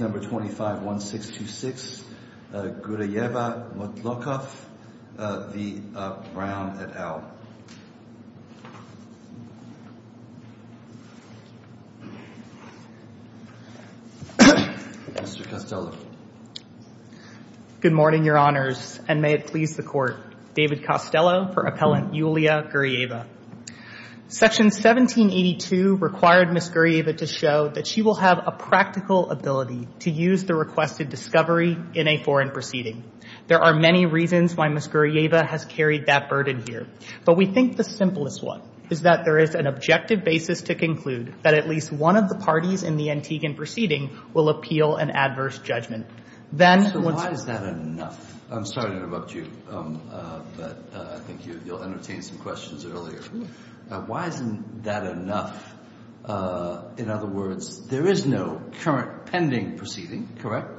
251626 Guryeva-Motlokhov v. Brown, et al. Mr. Costello. Good morning, Your Honors, and may it please the Court. David Costello for Appellant Yulia Guryeva. Section 1782 required Ms. Guryeva to show that she will have a practical ability to use the requested discovery in a foreign proceeding. There are many reasons why Ms. Guryeva has carried that burden here, but we think the simplest one is that there is an objective basis to conclude that at least one of the parties in the Antiguan proceeding will appeal an adverse judgment. Then, once the other parties in the Antiguan proceeding have appealed an adverse judgment, So why is that enough? I'm sorry to interrupt you, but I think you'll entertain some questions earlier. Why isn't that enough? In other words, there is no current pending proceeding, correct?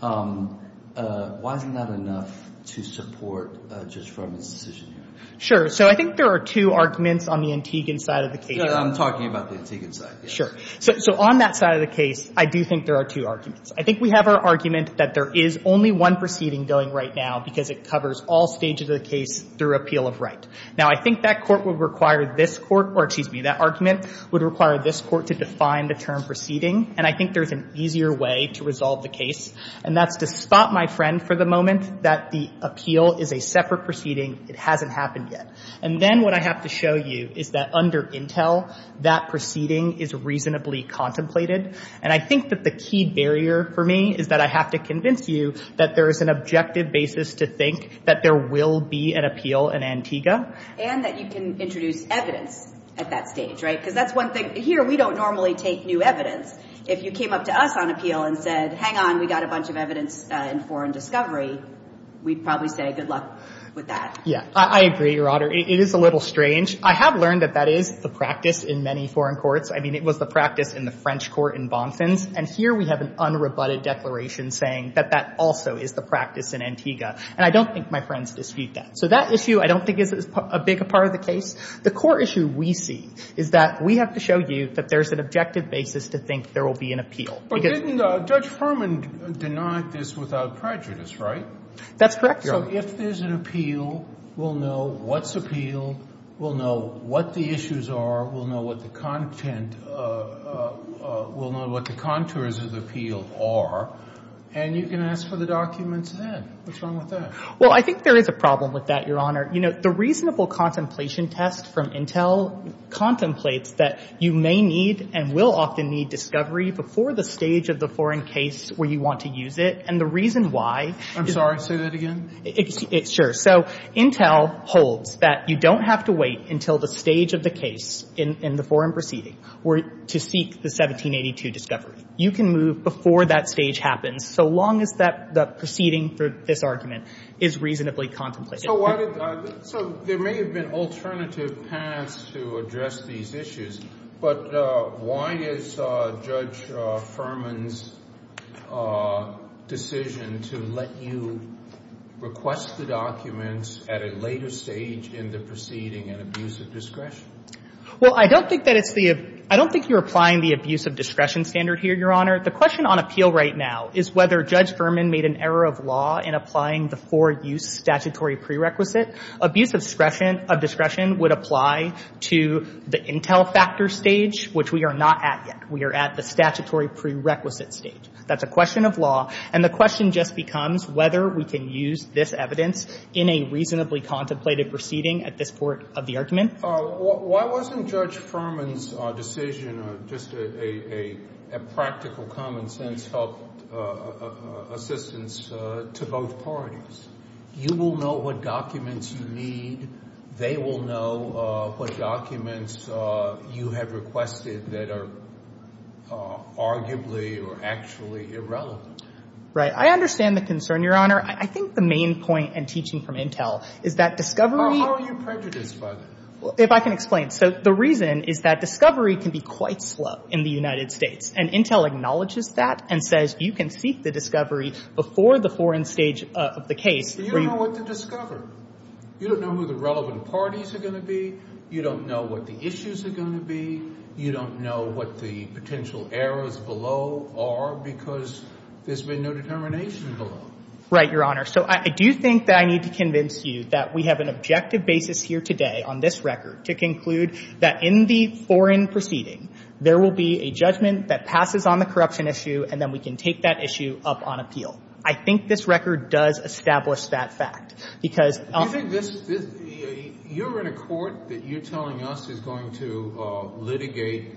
Why isn't that enough to support Judge Froman's decision here? Sure. So I think there are two arguments on the Antiguan side of the case. I'm talking about the Antiguan side. Sure. So on that side of the case, I do think there are two arguments. I think we have our argument that there is only one proceeding going right now because it covers all stages of the case through appeal of right. Now, I think that Court would require this Court or, excuse me, that argument would require this Court to define the term proceeding. And I think there's an easier way to resolve the case. And that's to stop my friend for the moment that the appeal is a separate proceeding. It hasn't happened yet. And then what I have to show you is that under Intel, that proceeding is reasonably contemplated. And I think that the key barrier for me is that I have to convince you that there is an objective basis to think that there will be an appeal in Antigua. And that you can introduce evidence at that stage, right? Because that's one thing. Here, we don't normally take new evidence. If you came up to us on appeal and said, hang on, we got a bunch of evidence in foreign discovery, we'd probably say good luck with that. Yeah. I agree, Your Honor. It is a little strange. I have learned that that is the practice in many foreign courts. I mean, it was the practice in the French court in Bonfins. And here we have an unrebutted declaration saying that that also is the practice in Antigua. And I don't think my friends dispute that. So that issue I don't think is a big part of the case. The core issue we see is that we have to show you that there's an objective basis to think there will be an appeal. But didn't Judge Furman deny this without prejudice, right? That's correct, Your Honor. So if there's an appeal, we'll know what's appealed. We'll know what the issues are. We'll know what the content of the – we'll know what the contours of the appeal are. And you can ask for the documents then. What's wrong with that? Well, I think there is a problem with that, Your Honor. You know, the reasonable contemplation test from Intel contemplates that you may need and will often need discovery before the stage of the foreign case where you want to use it. And the reason why – I'm sorry. Say that again. Sure. So Intel holds that you don't have to wait until the stage of the case in the foreign proceeding to seek the 1782 discovery. You can move before that stage happens so long as the proceeding for this argument is reasonably contemplated. So why did – so there may have been alternative paths to address these issues, but why is Judge Furman's decision to let you request the documents at a later stage in the proceeding an abuse of discretion? Well, I don't think that it's the – I don't think you're applying the abuse of discretion standard here, Your Honor. The question on appeal right now is whether Judge Furman made an error of law in applying the four-use statutory prerequisite. Abuse of discretion would apply to the Intel factor stage, which we are not at yet. We are at the statutory prerequisite stage. That's a question of law. And the question just becomes whether we can use this evidence in a reasonably contemplated proceeding at this point of the argument. Why wasn't Judge Furman's decision just a practical, common-sense assistance to both parties? You will know what documents you need. They will know what documents you have requested that are arguably or actually irrelevant. Right. I understand the concern, Your Honor. I think the main point in teaching from Intel is that discovery – If I can explain. So the reason is that discovery can be quite slow in the United States, and Intel acknowledges that and says you can seek the discovery before the foreign stage of the case. But you don't know what to discover. You don't know who the relevant parties are going to be. You don't know what the issues are going to be. You don't know what the potential errors below are because there's been no determination below. Right, Your Honor. So I do think that I need to convince you that we have an objective basis here today on this record to conclude that in the foreign proceeding there will be a judgment that passes on the corruption issue and then we can take that issue up on appeal. I think this record does establish that fact because – Do you think this – you're in a court that you're telling us is going to litigate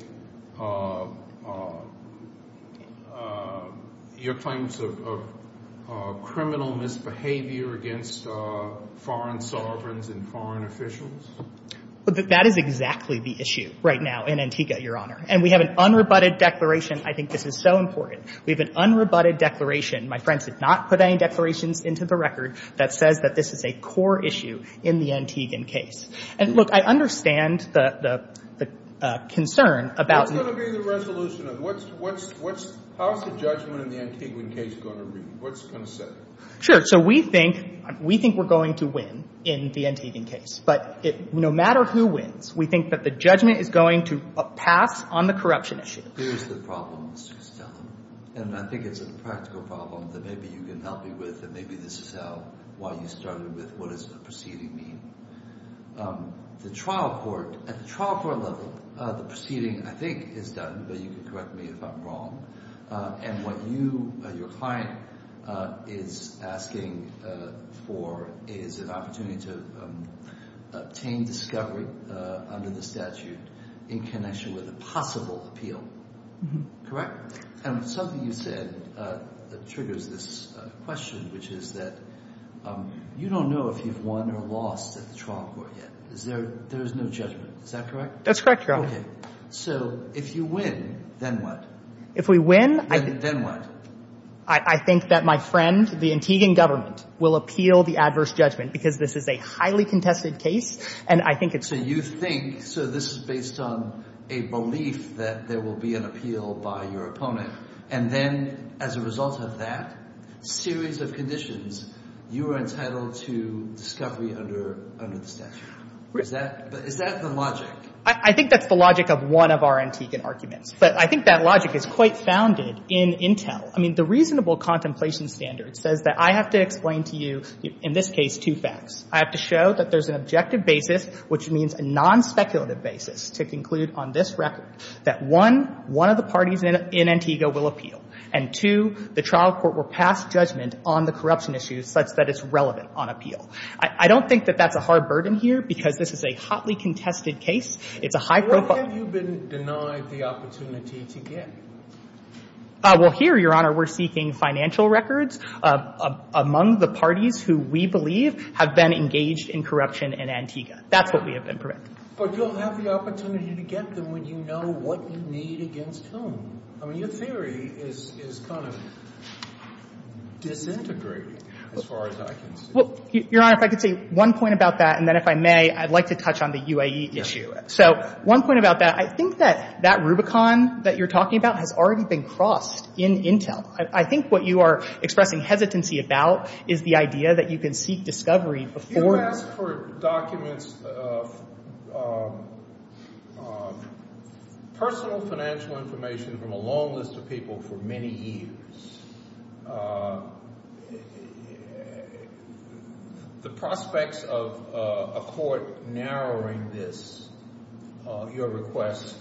your claims of criminal misbehavior against foreign sovereigns and foreign officials? That is exactly the issue right now in Antigua, Your Honor. And we have an unrebutted declaration. I think this is so important. We have an unrebutted declaration. My friends did not put any declarations into the record that says that this is a core issue in the Antiguan case. And, look, I understand the concern about – What's going to be the resolution of what's – how's the judgment in the Antiguan case going to read? What's going to set it? Sure. So we think we're going to win in the Antiguan case. But no matter who wins, we think that the judgment is going to pass on the corruption issue. Here's the problem, Mr. Costello, and I think it's a practical problem that maybe you can help me with and maybe this is how – why you started with what does the proceeding mean. The trial court – at the trial court level, the proceeding, I think, is done, but you can correct me if I'm wrong. And what you – your client is asking for is an opportunity to obtain discovery under the statute in connection with a possible appeal. Correct? And something you said triggers this question, which is that you don't know if you've won or lost at the trial court yet. There is no judgment. Is that correct? That's correct, Your Honor. Okay. So if you win, then what? If we win – Then what? I think that my friend, the Antiguan government, will appeal the adverse judgment because this is a highly contested case and I think it's – So you think – so this is based on a belief that there will be an appeal by your opponent, and then as a result of that series of conditions, you are entitled to discovery under the statute. Is that the logic? I think that's the logic of one of our Antiguan arguments. But I think that logic is quite founded in Intel. I mean, the reasonable contemplation standard says that I have to explain to you, in this case, two facts. I have to show that there's an objective basis, which means a non-speculative basis, to conclude on this record that, one, one of the parties in Antigua will appeal, and, two, the trial court will pass judgment on the corruption issue such that it's relevant on appeal. I don't think that that's a hard burden here because this is a hotly contested case. It's a high-profile – Why have you been denied the opportunity to get? Well, here, Your Honor, we're seeking financial records among the parties who we believe have been engaged in corruption in Antigua. That's what we have been preventing. But you'll have the opportunity to get them when you know what you need against whom. I mean, your theory is kind of disintegrating as far as I can see. Well, Your Honor, if I could say one point about that, and then if I may, I'd like to touch on the UAE issue. So one point about that, I think that that Rubicon that you're talking about has already been crossed in Intel. I think what you are expressing hesitancy about is the idea that you can seek discovery before you. You've asked for documents of personal financial information from a long list of people for many years. The prospects of a court narrowing this, your request,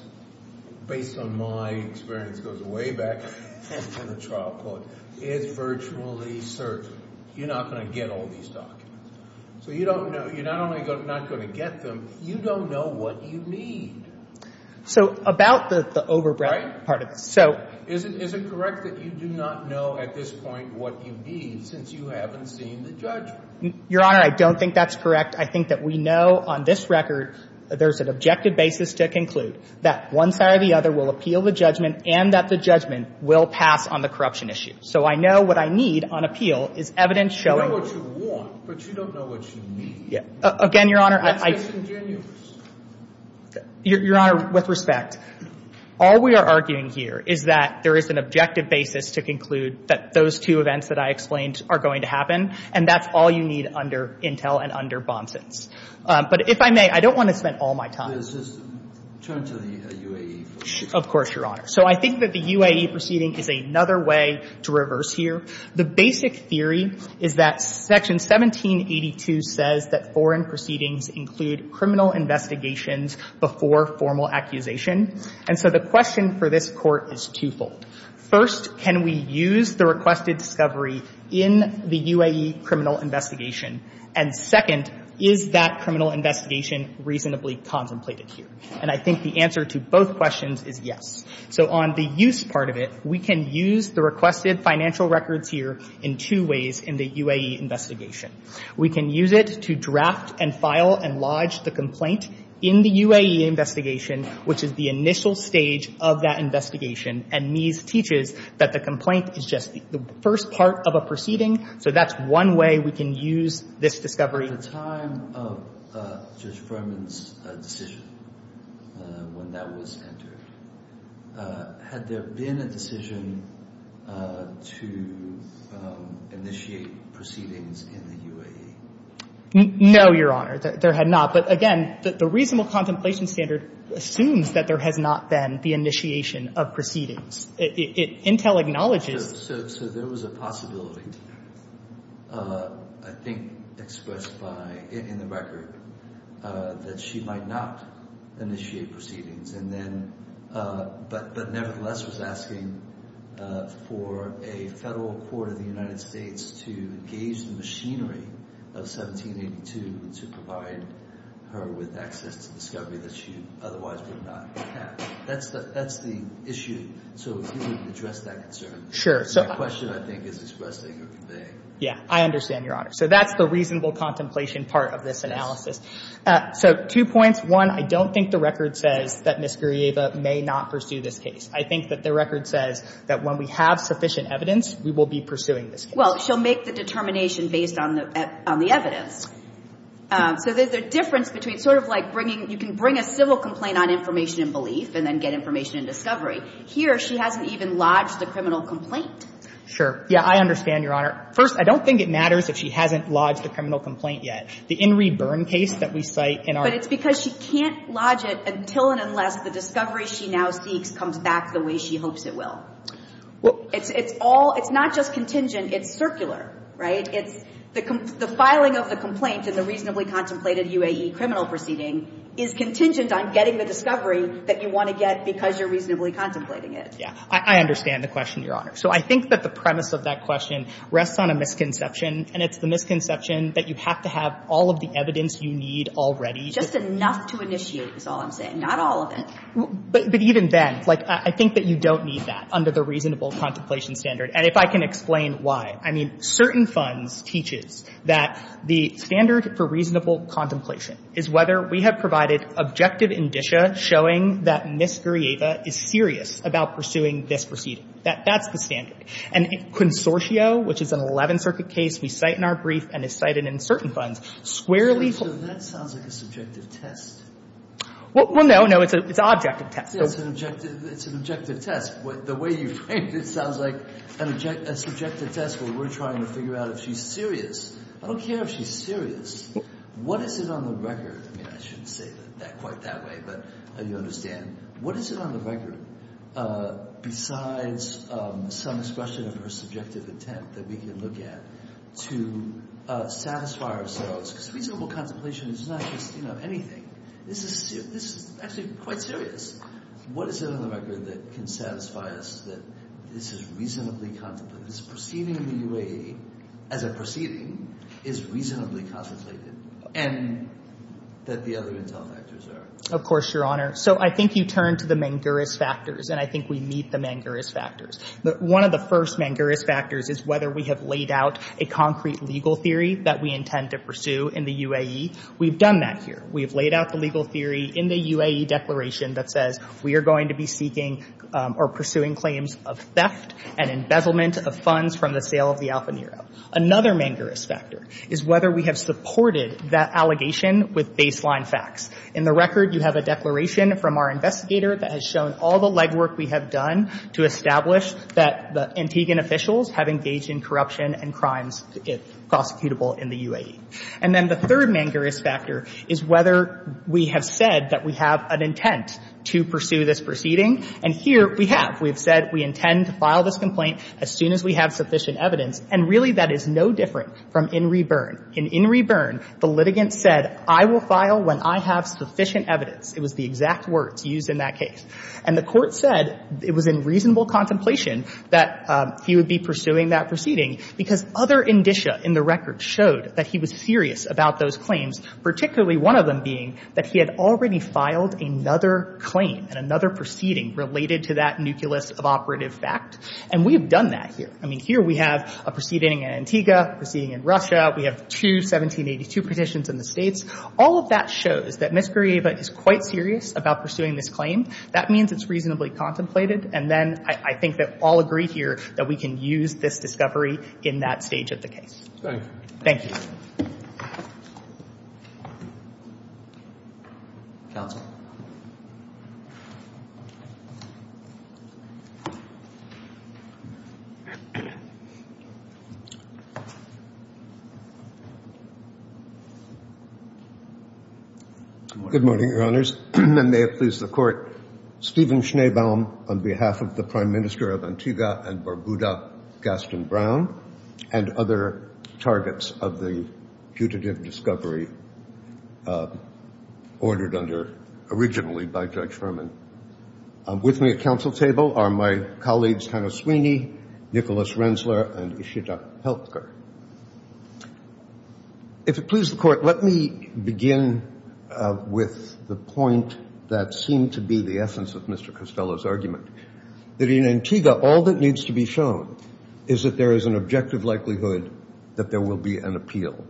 based on my experience goes way back to the trial court, is virtually certain. You're not going to get all these documents. So you don't know – you're not only not going to get them, you don't know what you need. So about the overbreadth part of this. Is it correct that you do not know at this point what you need since you haven't seen the judgment? Your Honor, I don't think that's correct. I think that we know on this record there's an objective basis to conclude that one side or the other will appeal the judgment and that the judgment will pass on the corruption issue. So I know what I need on appeal is evidence showing – You know what you want, but you don't know what you need. Again, Your Honor, I – That's disingenuous. Your Honor, with respect, all we are arguing here is that there is an objective basis to conclude that those two events that I explained are going to happen, and that's all you need under Intel and under Bonson's. But if I may, I don't want to spend all my time – Just turn to the UAE proceedings. Of course, Your Honor. So I think that the UAE proceeding is another way to reverse here. The basic theory is that Section 1782 says that foreign proceedings include criminal investigations before formal accusation. And so the question for this Court is twofold. First, can we use the requested discovery in the UAE criminal investigation? And second, is that criminal investigation reasonably contemplated here? And I think the answer to both questions is yes. So on the use part of it, we can use the requested financial records here in two ways in the UAE investigation. We can use it to draft and file and lodge the complaint in the UAE investigation, which is the initial stage of that investigation, and Mies teaches that the complaint is just the first part of a proceeding. So that's one way we can use this discovery. At the time of Judge Furman's decision, when that was entered, had there been a decision to initiate proceedings in the UAE? No, Your Honor. There had not. But again, the reasonable contemplation standard assumes that there has not been the initiation of proceedings. Intel acknowledges – So there was a possibility, I think expressed in the record, that she might not initiate proceedings, but nevertheless was asking for a federal court of the United States to engage the machinery of 1782 to provide her with access to discovery that she otherwise would not have. That's the issue. So can you address that concern? Sure. The question, I think, is expressing or conveying. Yeah, I understand, Your Honor. So that's the reasonable contemplation part of this analysis. So two points. One, I don't think the record says that Ms. Gurrieva may not pursue this case. I think that the record says that when we have sufficient evidence, we will be pursuing this case. Well, she'll make the determination based on the evidence. So there's a difference between sort of like bringing – you can bring a civil complaint on information and belief and then get information and discovery. Here, she hasn't even lodged the criminal complaint. Sure. Yeah, I understand, Your Honor. First, I don't think it matters if she hasn't lodged the criminal complaint yet. The In Re Burn case that we cite in our – But it's because she can't lodge it until and unless the discovery she now seeks comes back the way she hopes it will. Well – It's all – it's not just contingent. It's circular, right? It's the – the filing of the complaint in the reasonably contemplated UAE criminal proceeding is contingent on getting the discovery that you want to get because you're reasonably contemplating it. Yeah. I understand the question, Your Honor. So I think that the premise of that question rests on a misconception, and it's the misconception that you have to have all of the evidence you need already. Just enough to initiate is all I'm saying. Not all of it. But even then, like, I think that you don't need that under the reasonable contemplation standard. And if I can explain why. I mean, certain funds teaches that the standard for reasonable contemplation is whether we have provided objective indicia showing that Ms. Gurrieva is serious about pursuing this proceeding. That's the standard. And Consortio, which is an Eleventh Circuit case we cite in our brief and is cited in certain funds, squarely – So that sounds like a subjective test. Well, no, no. It's an objective test. It's an objective – it's an objective test. The way you framed it sounds like a subjective test where we're trying to figure out if she's serious. I don't care if she's serious. What is it on the record? I mean, I shouldn't say it quite that way, but you understand. What is it on the record besides some expression of her subjective intent that we can look at to satisfy ourselves? Because reasonable contemplation is not just, you know, anything. This is actually quite serious. What is it on the record that can satisfy us that this is reasonably contemplated, this proceeding in the UAE as a proceeding is reasonably contemplated, and that the other intel factors are? Of course, Your Honor. So I think you turn to the Manguris factors, and I think we meet the Manguris factors. One of the first Manguris factors is whether we have laid out a concrete legal theory that we intend to pursue in the UAE. We've done that here. We've laid out the legal theory in the UAE declaration that says we are going to be seeking or pursuing claims of theft and embezzlement of funds from the sale of the Alfa Nero. Another Manguris factor is whether we have supported that allegation with baseline facts. In the record, you have a declaration from our investigator that has shown all the legwork we have done to establish that the Antiguan officials have engaged in corruption and crimes prosecutable in the UAE. And then the third Manguris factor is whether we have said that we have an intent to pursue this proceeding. And here we have. We have said we intend to file this complaint as soon as we have sufficient evidence. And really, that is no different from In Re Burn. In In Re Burn, the litigant said, I will file when I have sufficient evidence. It was the exact words used in that case. And the Court said it was in reasonable contemplation that he would be pursuing that proceeding, because other indicia in the record showed that he was serious about those claims, particularly one of them being that he had already filed another claim and another proceeding related to that nucleus of operative fact. And we have done that here. I mean, here we have a proceeding in Antigua, a proceeding in Russia. We have two 1782 petitions in the States. All of that shows that Ms. Grieva is quite serious about pursuing this claim. That means it's reasonably contemplated. And then I think that all agree here that we can use this discovery in that stage of the case. Thank you. Counsel. Good morning, Your Honors. And may it please the Court, Stephen Schneebaum on behalf of the Prime Minister of Antigua and Barbuda, Gaston Brown, and other targets of the putative discovery ordered under originally by Judge Furman. With me at counsel table are my colleagues Hannah Sweeney, Nicholas Rensler, and Ishita Helker. If it please the Court, let me begin with the point that seemed to be the essence of Mr. Costello's argument. That in Antigua, all that needs to be shown is that there is an objective likelihood that there will be an appeal.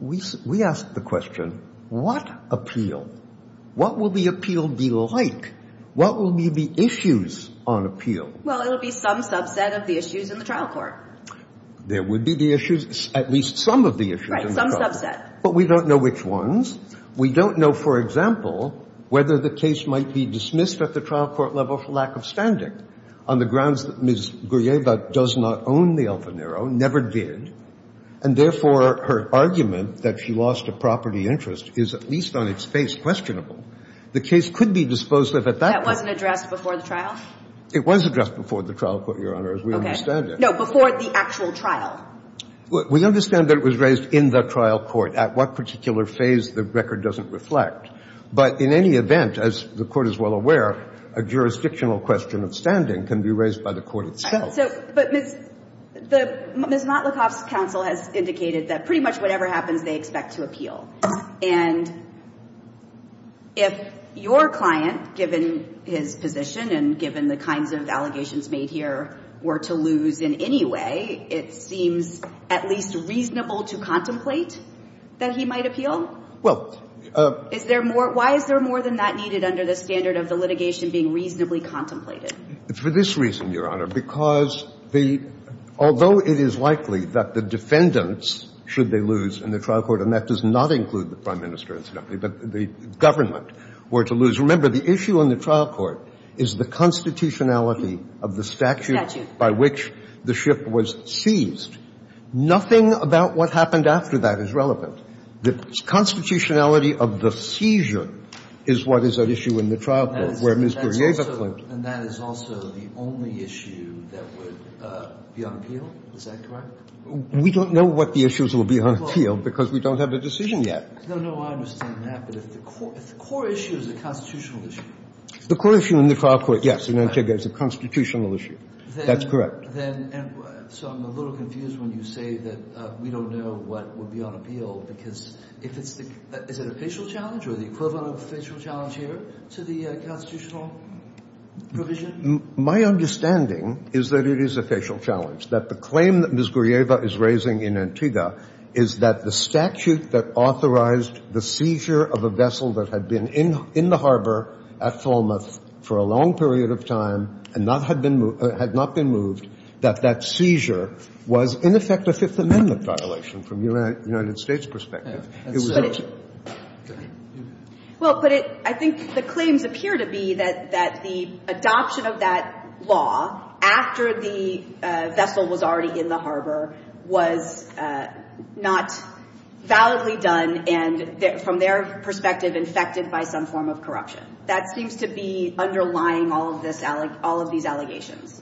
We asked the question, what appeal? What will the appeal be like? What will be the issues on appeal? Well, it will be some subset of the issues in the trial court. There would be the issues, at least some of the issues in the trial court. Right, some subset. But we don't know which ones. We don't know, for example, whether the case might be dismissed at the trial court level for lack of standing on the grounds that Ms. Gruyeva does not own the Elfenero, never did, and therefore her argument that she lost a property interest is at least on its face questionable. The case could be disposed of at that point. That wasn't addressed before the trial? It was addressed before the trial court, Your Honors. Okay. No, before the actual trial. We understand that it was raised in the trial court. At what particular phase, the record doesn't reflect. But in any event, as the Court is well aware, a jurisdictional question of standing can be raised by the Court itself. But Ms. Motlykoff's counsel has indicated that pretty much whatever happens, they expect to appeal. And if your client, given his position and given the kinds of allegations made here, were to lose in any way, it seems at least reasonable to contemplate that he might appeal? Well, is there more – why is there more than that needed under the standard of the litigation being reasonably contemplated? For this reason, Your Honor, because the – although it is likely that the defendants should they lose in the trial court, and that does not include the Prime Minister, incidentally, but the government were to lose. Because, remember, the issue in the trial court is the constitutionality of the statute by which the ship was seized. Nothing about what happened after that is relevant. The constitutionality of the seizure is what is at issue in the trial court, where Ms. Guryeva claimed. And that is also the only issue that would be on appeal? Is that correct? We don't know what the issues will be on appeal because we don't have a decision yet. No, no, I understand that. But if the core issue is the constitutional issue. The core issue in the trial court, yes, in Antigua, is the constitutional issue. That's correct. So I'm a little confused when you say that we don't know what would be on appeal because if it's the – is it a facial challenge or the equivalent of a facial challenge here to the constitutional provision? My understanding is that it is a facial challenge, that the claim that Ms. Guryeva is raising in Antigua is that the statute that authorized the seizure of a vessel that had been in the harbor at Falmouth for a long period of time and had not been moved, that that seizure was in effect a Fifth Amendment violation from a United States perspective. Well, but I think the claims appear to be that the adoption of that law after the was not validly done and from their perspective infected by some form of corruption. That seems to be underlying all of this – all of these allegations.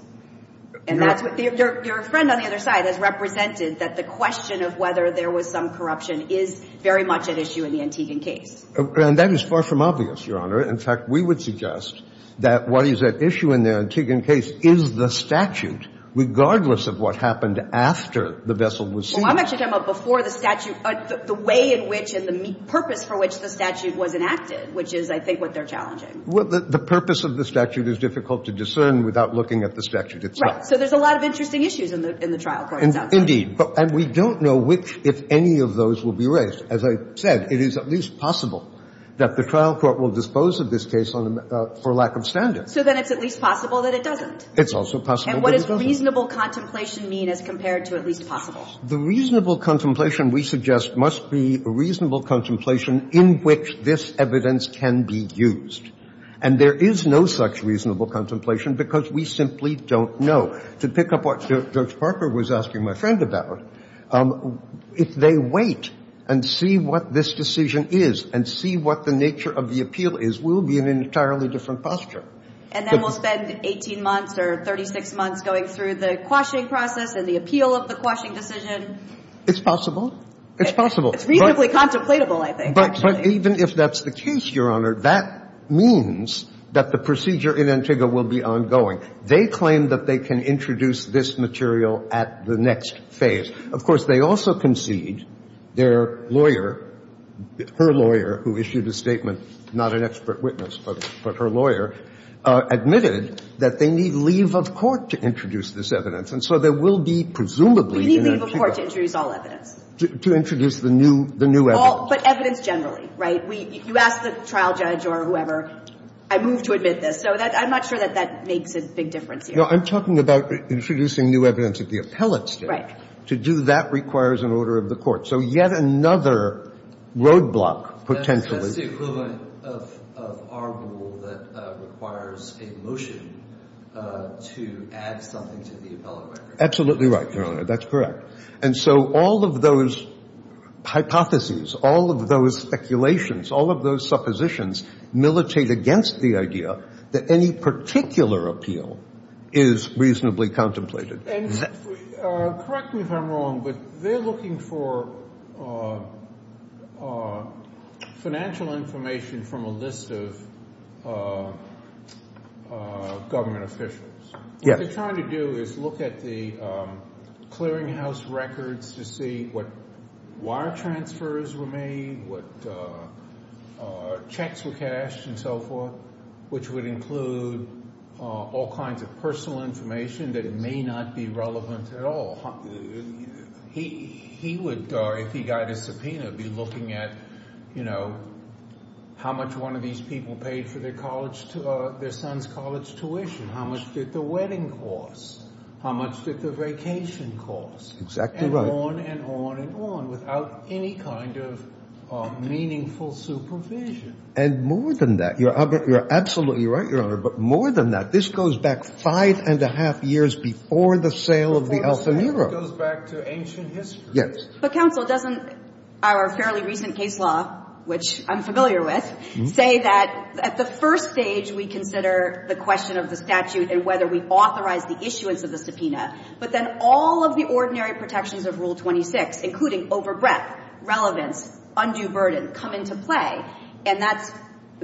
And that's what – your friend on the other side has represented that the question of whether there was some corruption is very much at issue in the Antiguan case. And that is far from obvious, Your Honor. In fact, we would suggest that what is at issue in the Antiguan case is the statute, regardless of what happened after the vessel was seized. Well, I'm actually talking about before the statute – the way in which and the purpose for which the statute was enacted, which is, I think, what they're challenging. Well, the purpose of the statute is difficult to discern without looking at the statute itself. Right. So there's a lot of interesting issues in the trial court itself. Indeed. And we don't know which – if any of those will be raised. As I said, it is at least possible that the trial court will dispose of this case for lack of standard. So then it's at least possible that it doesn't. It's also possible that it doesn't. And what does reasonable contemplation mean as compared to at least possible? The reasonable contemplation we suggest must be reasonable contemplation in which this evidence can be used. And there is no such reasonable contemplation because we simply don't know. To pick up what Judge Parker was asking my friend about, if they wait and see what this decision is and see what the nature of the appeal is, we'll be in an entirely different posture. And then we'll spend 18 months or 36 months going through the quashing process and the appeal of the quashing decision. It's possible. It's possible. It's reasonably contemplatable, I think, actually. But even if that's the case, Your Honor, that means that the procedure in Antigua will be ongoing. They claim that they can introduce this material at the next phase. Of course, they also concede their lawyer, her lawyer, who issued a statement, not an expert witness, but her lawyer, admitted that they need leave of court to introduce this evidence. And so there will be presumably in Antigua. We need leave of court to introduce all evidence. To introduce the new evidence. But evidence generally, right? You ask the trial judge or whoever, I move to admit this. So I'm not sure that that makes a big difference here. No, I'm talking about introducing new evidence at the appellate stage. Right. To do that requires an order of the court. So yet another roadblock potentially. That's the equivalent of our rule that requires a motion to add something to the appellate record. Absolutely right, Your Honor. That's correct. And so all of those hypotheses, all of those speculations, all of those suppositions militate against the idea that any particular appeal is reasonably contemplated. Correct me if I'm wrong, but they're looking for financial information from a list of government officials. What they're trying to do is look at the clearinghouse records to see what wire transfers were made, what checks were cashed and so forth, which would include all kinds of personal information that may not be relevant at all. He would, if he got a subpoena, be looking at how much one of these people paid for their son's college tuition. How much did the wedding cost? How much did the vacation cost? Exactly right. And on and on and on without any kind of meaningful supervision. And more than that. You're absolutely right, Your Honor. But more than that, this goes back five-and-a-half years before the sale of the Alfamira. It goes back to ancient history. Yes. But, counsel, doesn't our fairly recent case law, which I'm familiar with, say that at the first stage we consider the question of the statute and whether we authorize the issuance of the subpoena, but then all of the ordinary protections of Rule 26, including overbreadth, relevance, undue burden, come into play. And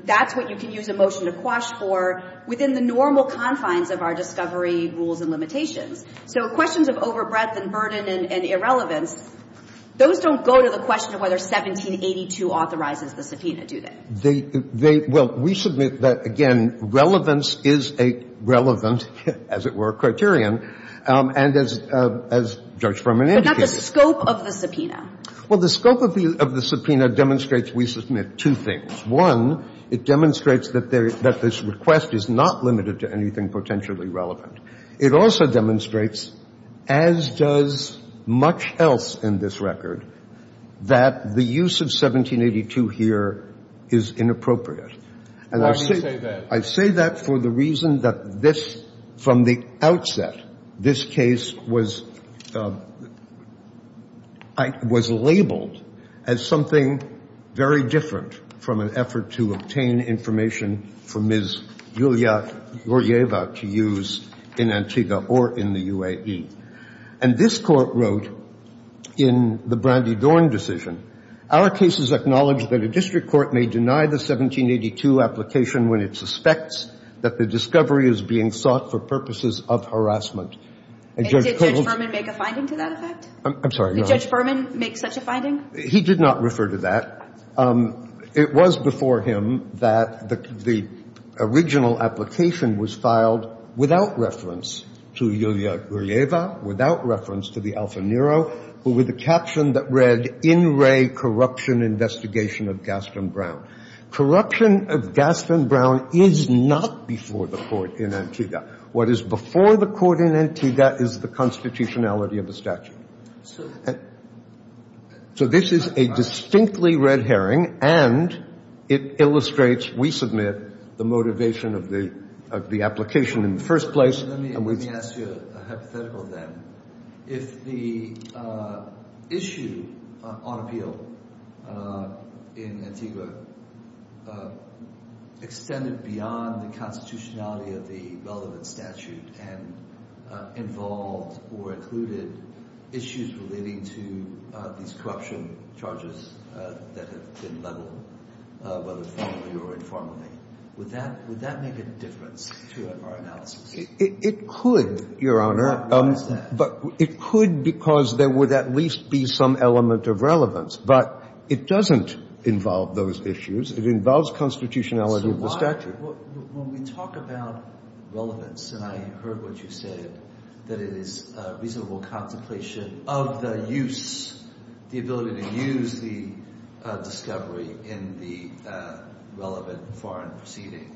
that's what you can use a motion to quash for within the normal confines of our discovery rules and limitations. So questions of overbreadth and burden and irrelevance, those don't go to the question of whether 1782 authorizes the subpoena, do they? Well, we submit that, again, relevance is a relevant, as it were, criterion. And as Judge Berman indicated. But not the scope of the subpoena. Well, the scope of the subpoena demonstrates we submit two things. One, it demonstrates that this request is not limited to anything potentially relevant. It also demonstrates, as does much else in this record, that the use of 1782 here is inappropriate. Why do you say that? I say that for the reason that this, from the outset, this case was labeled as something very different from an effort to obtain information for Ms. Yulia Yuryeva to use in Antigua or in the UAE. And this Court wrote in the Brandy Dorn decision, And did Judge Berman make a finding to that effect? I'm sorry, go on. Did Judge Berman make such a finding? He did not refer to that. It was before him that the original application was filed without reference to Yulia Yuryeva, without reference to the Alfa Nero, who with a caption that read, Corruption investigation of Gaston Brown. Corruption of Gaston Brown is not before the Court in Antigua. What is before the Court in Antigua is the constitutionality of the statute. So this is a distinctly red herring, and it illustrates we submit the motivation of the application in the first place. Let me ask you a hypothetical then. If the issue on appeal in Antigua extended beyond the constitutionality of the relevant statute and involved or included issues relating to these corruption charges that have been leveled, whether formally or informally, would that make a difference to our analysis? It could, Your Honor. Why is that? It could because there would at least be some element of relevance. But it doesn't involve those issues. It involves constitutionality of the statute. When we talk about relevance, and I heard what you said, that it is a reasonable contemplation of the use, the ability to use the discovery in the relevant foreign proceeding.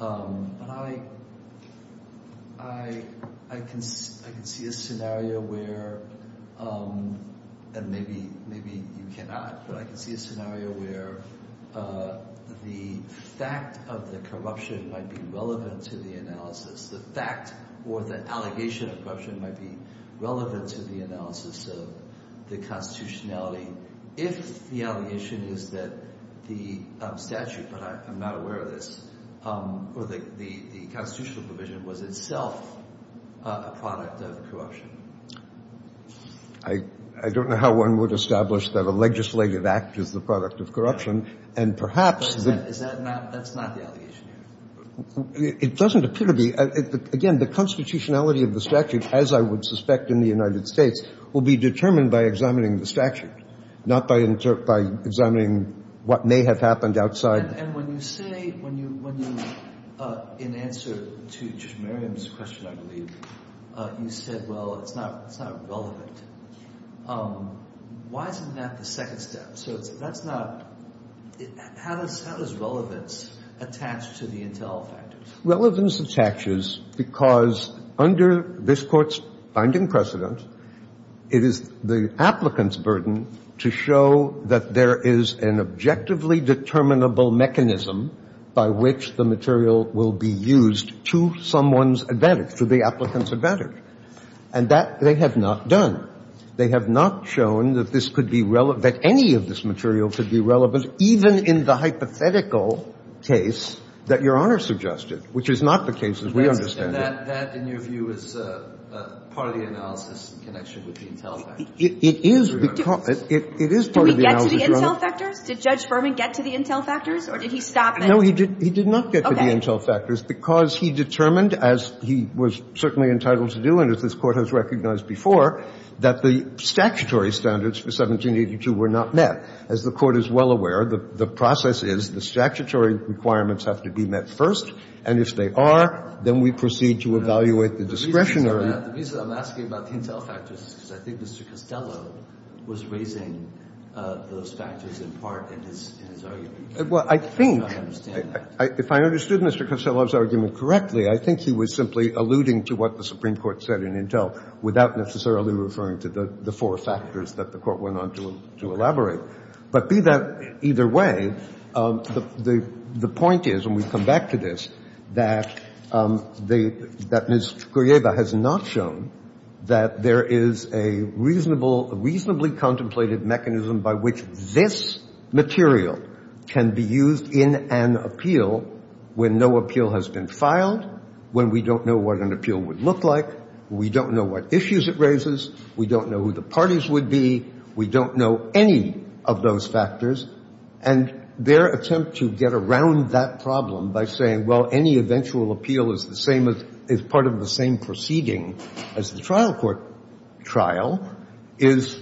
I can see a scenario where, and maybe you cannot, but I can see a scenario where the fact of the corruption might be relevant to the analysis, the fact or the allegation of corruption might be relevant to the analysis of the constitutionality if the allegation is that the statute, but I'm not aware of this, or the constitutional provision was itself a product of corruption. I don't know how one would establish that a legislative act is the product of corruption, and perhaps the — That's not the allegation, Your Honor. It doesn't appear to be. Again, the constitutionality of the statute, as I would suspect in the United States, will be determined by examining the statute, not by examining what may have happened outside. And when you say — when you — in answer to Judge Merriam's question, I believe, you said, well, it's not relevant. Why isn't that the second step? So that's not — how does relevance attach to the intel factors? Relevance attaches because under this Court's binding precedent, it is the applicant's burden to show that there is an objectively determinable mechanism by which the material will be used to someone's advantage, to the applicant's advantage. And that they have not done. They have not shown that this could be relevant — that any of this material could be relevant, even in the hypothetical case that Your Honor suggested, which is not the case, as we understand it. And that, in your view, is part of the analysis in connection with the intel factors? It is because — it is part of the analysis — Did we get to the intel factors? Did Judge Berman get to the intel factors, or did he stop there? No, he did — he did not get to the intel factors because he determined, as he was certainly entitled to do and as this Court has recognized before, that the statutory standards for 1782 were not met. As the Court is well aware, the process is the statutory requirements have to be met first, and if they are, then we proceed to evaluate the discretionary — The reason I'm asking about the intel factors is because I think Mr. Costello was raising those factors in part in his argument. Well, I think — I don't understand that. If I understood Mr. Costello's argument correctly, I think he was simply alluding to what the Supreme Court said in intel without necessarily referring to the four factors that the Court went on to elaborate. But be that either way, the point is, and we come back to this, that the — that Ms. Kuryeva has not shown that there is a reasonable — a reasonably contemplated mechanism by which this material can be used in an appeal when no appeal has been filed, when we don't know what an appeal would look like, we don't know what issues it raises, we don't know who the parties would be, we don't know any of those factors, and their attempt to get around that problem by saying, well, any eventual appeal is the same as — is part of the same proceeding as the trial court trial is,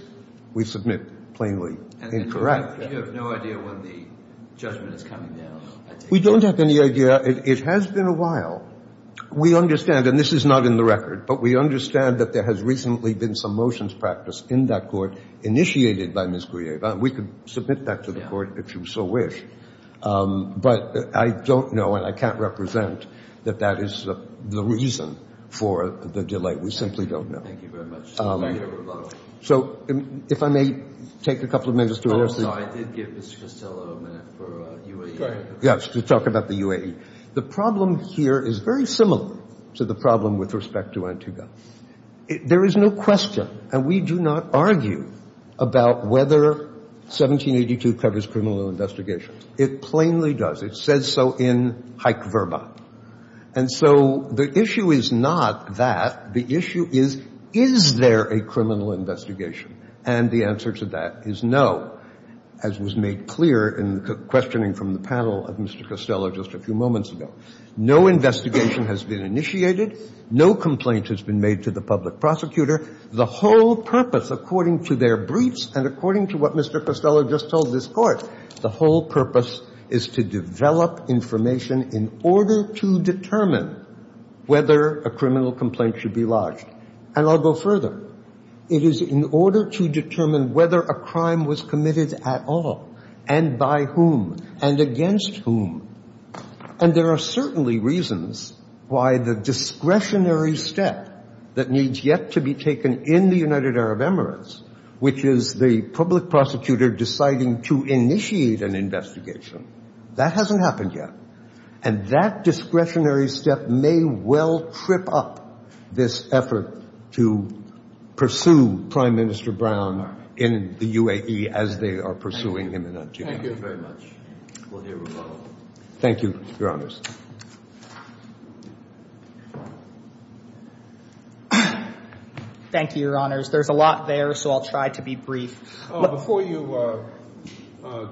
we submit, plainly incorrect. And you have no idea when the judgment is coming down, I take it? We don't have any idea. It has been a while. We understand, and this is not in the record, but we understand that there has recently been some motions practiced in that court initiated by Ms. Kuryeva. We could submit that to the Court if you so wish. But I don't know and I can't represent that that is the reason for the delay. We simply don't know. Thank you very much. Thank you. So if I may take a couple of minutes to answer — No, I did give Mr. Costello a minute for UAE. Yes, to talk about the UAE. The problem here is very similar to the problem with respect to Antigua. There is no question, and we do not argue, about whether 1782 covers criminal investigations. It plainly does. It says so in Hake Verba. And so the issue is not that. The issue is, is there a criminal investigation? And the answer to that is no, as was made clear in the questioning from the panel of Mr. Costello just a few moments ago. No investigation has been initiated. No complaint has been made to the public prosecutor. The whole purpose, according to their briefs and according to what Mr. Costello just told this Court, the whole purpose is to develop information in order to determine whether a criminal complaint should be lodged. And I'll go further. It is in order to determine whether a crime was committed at all and by whom and against whom. And there are certainly reasons why the discretionary step that needs yet to be taken in the United Arab Emirates, which is the public prosecutor deciding to initiate an investigation, that hasn't happened yet. And that discretionary step may well trip up this effort to pursue Prime Minister Brown in the UAE as they are pursuing him in Antigua. Thank you very much. We'll hear from both. Thank you, Your Honors. Thank you, Your Honors. There's a lot there, so I'll try to be brief. Before you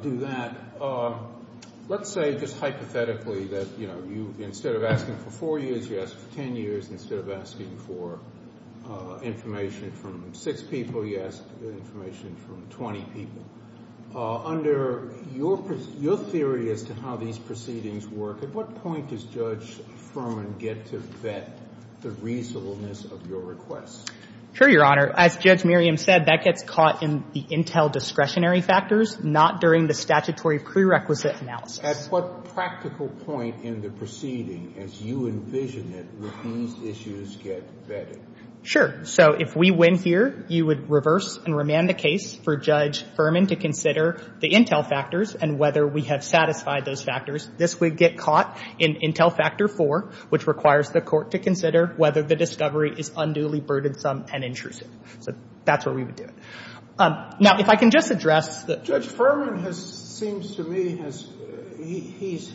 do that, let's say just hypothetically that you, instead of asking for four years, you ask for 10 years. Instead of asking for information from six people, you ask information from 20 people. Under your theory as to how these proceedings work, at what point does Judge Furman get to vet the reasonableness of your request? Sure, Your Honor. As Judge Merriam said, that gets caught in the intel discretionary factors, not during the statutory prerequisite analysis. At what practical point in the proceeding, as you envision it, would these issues get vetted? Sure. So if we win here, you would reverse and remand the case for Judge Furman to consider the intel factors and whether we have satisfied those factors. This would get caught in intel factor four, which requires the court to consider whether the discovery is unduly burdensome and intrusive. So that's where we would do it. Now, if I can just address the— Judge Furman seems to me has—he's,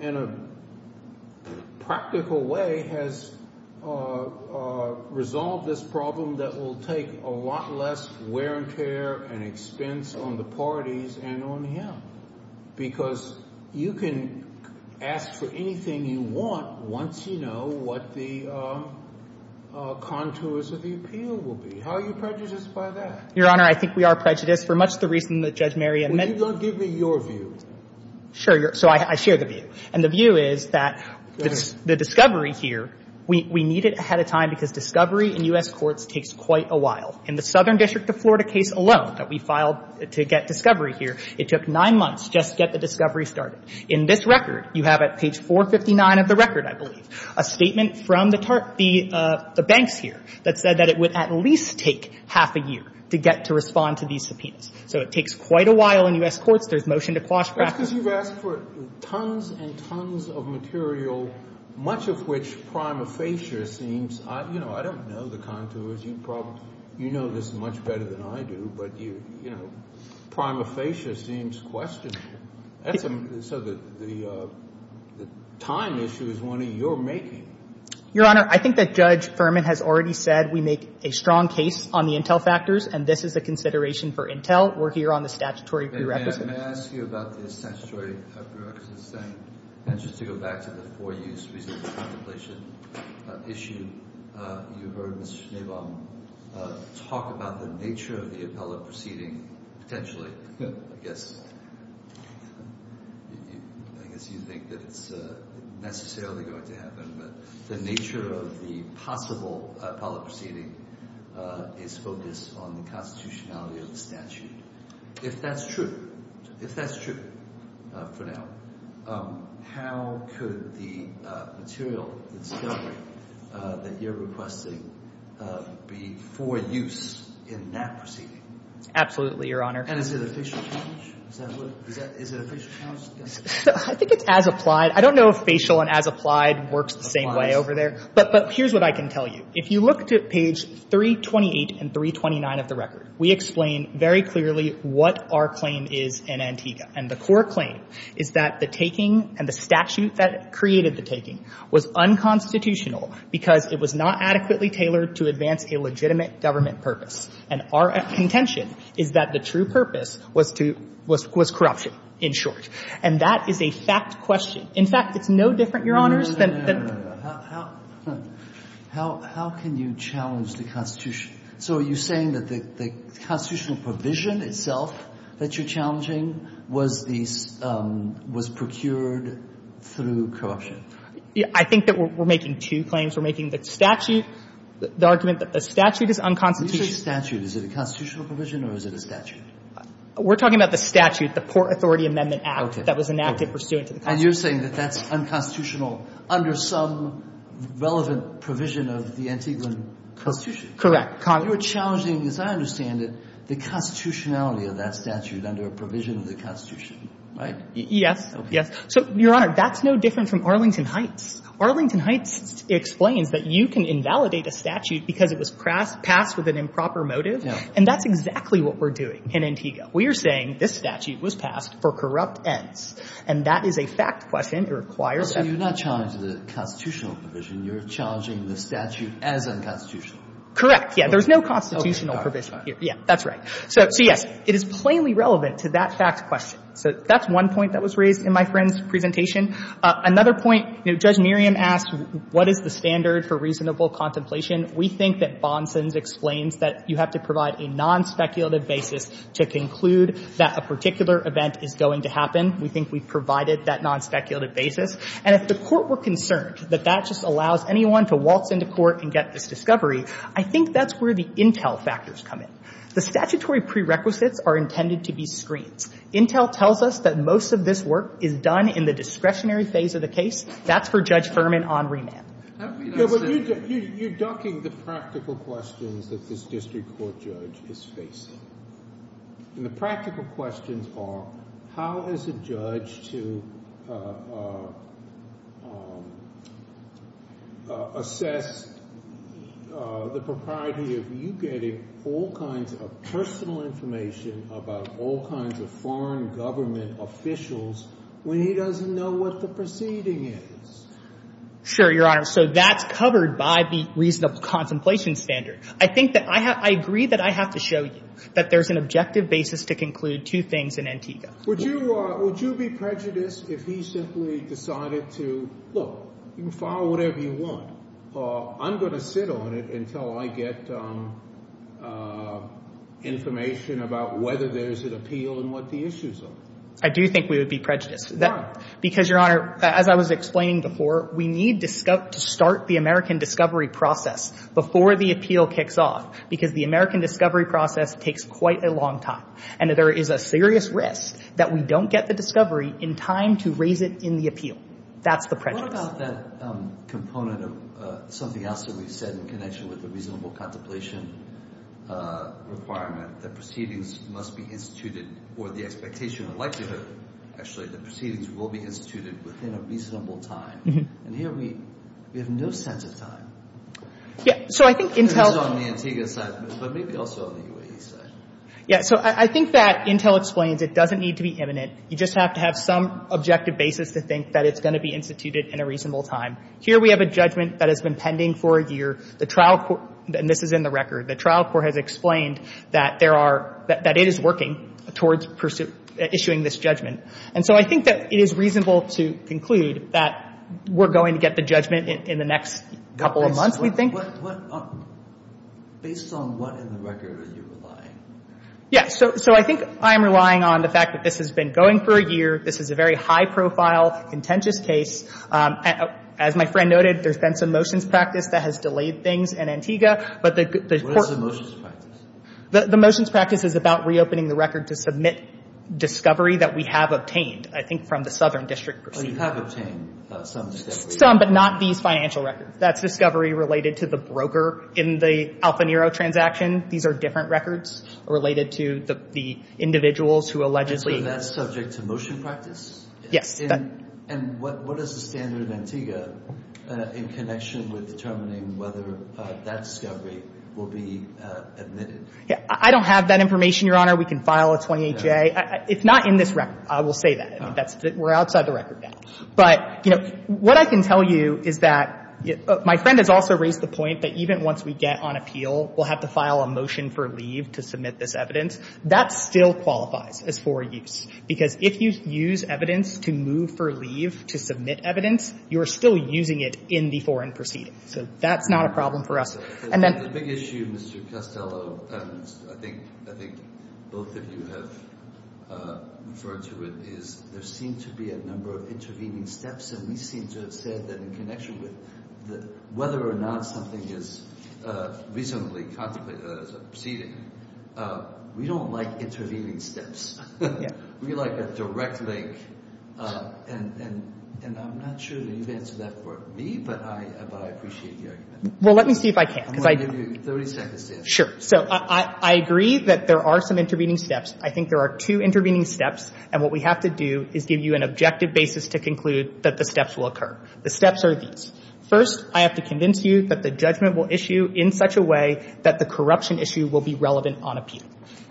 in a practical way, has resolved this problem that will take a lot less wear and tear and expense on the parties and on him. Because you can ask for anything you want once you know what the contours of the appeal will be. How are you prejudiced by that? Your Honor, I think we are prejudiced for much the reason that Judge Merriam— Well, you don't give me your view. Sure. So I share the view. And the view is that the discovery here, we need it ahead of time because discovery in U.S. courts takes quite a while. In the Southern District of Florida case alone that we filed to get discovery here, it took nine months just to get the discovery started. In this record, you have at page 459 of the record, I believe, a statement from the banks here that said that it would at least take half a year to get to respond to these subpoenas. So it takes quite a while in U.S. courts. There's motion to quash— That's because you've asked for tons and tons of material, much of which prima facie seems—you know, I don't know the contours. You know this much better than I do. But, you know, prima facie seems questionable. So the time issue is one of your making. Your Honor, I think that Judge Furman has already said we make a strong case on the intel factors, and this is a consideration for intel. We're here on the statutory prerequisites. May I ask you about the statutory prerequisites? And just to go back to the four-use reason for contemplation issue, you heard Mr. Schneebaum talk about the nature of the appellate proceeding potentially, I guess. I guess you think that it's necessarily going to happen. But the nature of the possible appellate proceeding is focused on the constitutionality of the statute. If that's true, if that's true for now, how could the material, the discovery that you're requesting, be for use in that proceeding? Absolutely, Your Honor. And is it a facial challenge? Is that what it is? Is it a facial challenge? I think it's as applied. I don't know if facial and as applied works the same way over there. But here's what I can tell you. If you look to page 328 and 329 of the record, we explain very clearly what our claim is in Antigua. And the core claim is that the taking and the statute that created the taking was unconstitutional because it was not adequately tailored to advance a legitimate government purpose. And our contention is that the true purpose was to — was corruption, in short. And that is a fact question. In fact, it's no different, Your Honors, than the — No, no, no, no, no. How can you challenge the Constitution? So are you saying that the constitutional provision itself that you're challenging was the — was procured through corruption? I think that we're making two claims. We're making the statute — the argument that the statute is unconstitutional But when you say statute, is it a constitutional provision or is it a statute? We're talking about the statute, the Port Authority Amendment Act that was enacted pursuant to the Constitution. Okay. And you're saying that that's unconstitutional under some relevant provision of the Antiguan Constitution? Correct. You're challenging, as I understand it, the constitutionality of that statute under a provision of the Constitution, right? Yes. Okay. Yes. So, Your Honor, that's no different from Arlington Heights. Arlington Heights explains that you can invalidate a statute because it was passed with an improper motive. And that's exactly what we're doing in Antigua. We are saying this statute was passed for corrupt ends. And that is a fact question. It requires — So you're not challenging the constitutional provision. You're challenging the statute as unconstitutional. Correct. Yeah. There's no constitutional provision here. Yeah. That's right. So, yes, it is plainly relevant to that fact question. So that's one point that was raised in my friend's presentation. Another point, Judge Miriam asked, what is the standard for reasonable contemplation? We think that Bonson's explains that you have to provide a nonspeculative basis to conclude that a particular event is going to happen. We think we've provided that nonspeculative basis. And if the Court were concerned that that just allows anyone to waltz into court and get this discovery, I think that's where the intel factors come in. The statutory prerequisites are intended to be screens. Intel tells us that most of this work is done in the discretionary phase of the case. That's for Judge Furman on remand. You're ducking the practical questions that this district court judge is facing. And the practical questions are, how is a judge to assess the propriety of you getting all kinds of personal information about all kinds of foreign government officials when he doesn't know what the proceeding is? Sure, Your Honor. So that's covered by the reasonable contemplation standard. I think that I agree that I have to show you that there's an objective basis to conclude two things in Antigua. Would you be prejudiced if he simply decided to, look, you can file whatever you want. I'm going to sit on it until I get information about whether there's an appeal and what the issues are. I do think we would be prejudiced. Why? Because, Your Honor, as I was explaining before, we need to start the American discovery process before the appeal kicks off, because the American discovery process takes quite a long time. And there is a serious risk that we don't get the discovery in time to raise it in the appeal. That's the prejudice. What about that component of something else that we said in connection with the reasonable contemplation requirement, that proceedings must be instituted for the expectation of likelihood? Actually, the proceedings will be instituted within a reasonable time. And here we have no sense of time. Yeah. So I think Intel. It's on the Antigua side, but maybe also on the UAE side. Yeah. So I think that Intel explains it doesn't need to be imminent. You just have to have some objective basis to think that it's going to be instituted in a reasonable time. Here we have a judgment that has been pending for a year. The trial court, and this is in the record, the trial court has explained that there is no reason for issuing this judgment. And so I think that it is reasonable to conclude that we're going to get the judgment in the next couple of months, we think. Based on what in the record are you relying? Yeah. So I think I'm relying on the fact that this has been going for a year. This is a very high-profile, contentious case. As my friend noted, there's been some motions practice that has delayed things in Antigua. But the court — What is the motions practice? The motions practice is about reopening the record to submit discovery that we have obtained, I think, from the Southern District Proceedings. Oh, you have obtained some discovery. Some, but not these financial records. That's discovery related to the broker in the Alfa Nero transaction. These are different records related to the individuals who allegedly — And so that's subject to motion practice? Yes. And what is the standard in Antigua in connection with determining whether that discovery will be admitted? I don't have that information, Your Honor. We can file a 28-J. It's not in this record. I will say that. We're outside the record now. But, you know, what I can tell you is that — my friend has also raised the point that even once we get on appeal, we'll have to file a motion for leave to submit this evidence. That still qualifies as for use, because if you use evidence to move for leave to submit evidence, you're still using it in the foreign proceeding. So that's not a problem for us. The big issue, Mr. Costello, and I think both of you have referred to it, is there seem to be a number of intervening steps. And we seem to have said that in connection with whether or not something is reasonably contemplated as a proceeding, we don't like intervening steps. We like a direct link. And I'm not sure that you've answered that for me, but I appreciate the argument. Well, let me see if I can. I'm going to give you 30 seconds to answer. Sure. So I agree that there are some intervening steps. I think there are two intervening steps. And what we have to do is give you an objective basis to conclude that the steps will occur. The steps are these. First, I have to convince you that the judgment will issue in such a way that the corruption issue will be relevant on appeal.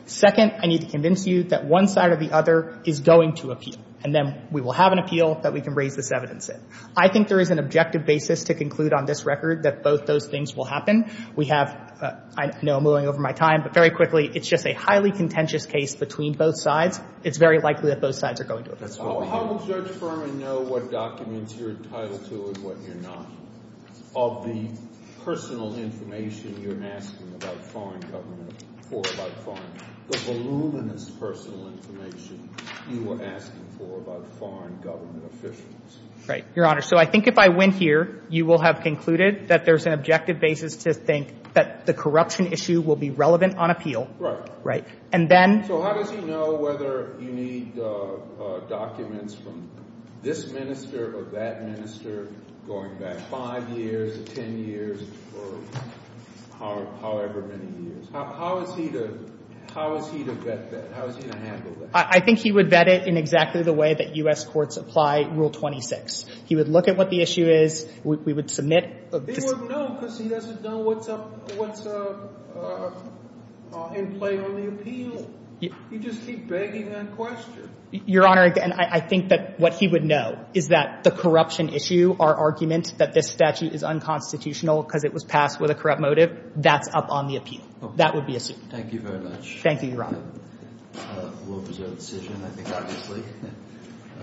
Second, I need to convince you that one side or the other is going to appeal. And then we will have an appeal that we can raise this evidence in. I think there is an objective basis to conclude on this record that both those things will happen. We have – I know I'm moving over my time, but very quickly, it's just a highly contentious case between both sides. It's very likely that both sides are going to appeal. That's what we have. How will Judge Furman know what documents you're entitled to and what you're not? Of the personal information you're asking about foreign government or about foreign government, the voluminous personal information you were asking for about foreign government officials. Right, Your Honor. So I think if I win here, you will have concluded that there's an objective basis to think that the corruption issue will be relevant on appeal. Right. Right. And then – So how does he know whether you need documents from this minister or that minister going back 5 years, 10 years, or however many years? How is he to – how is he to vet that? How is he to handle that? I think he would vet it in exactly the way that U.S. courts apply Rule 26. He would look at what the issue is. We would submit. He wouldn't know because he doesn't know what's in play on the appeal. He'd just keep begging that question. Your Honor, again, I think that what he would know is that the corruption issue, our argument that this statute is unconstitutional because it was passed with a corrupt motive, that's up on the appeal. That would be assumed. Thank you very much. Thank you, Your Honor. We'll preserve the decision, I think, obviously.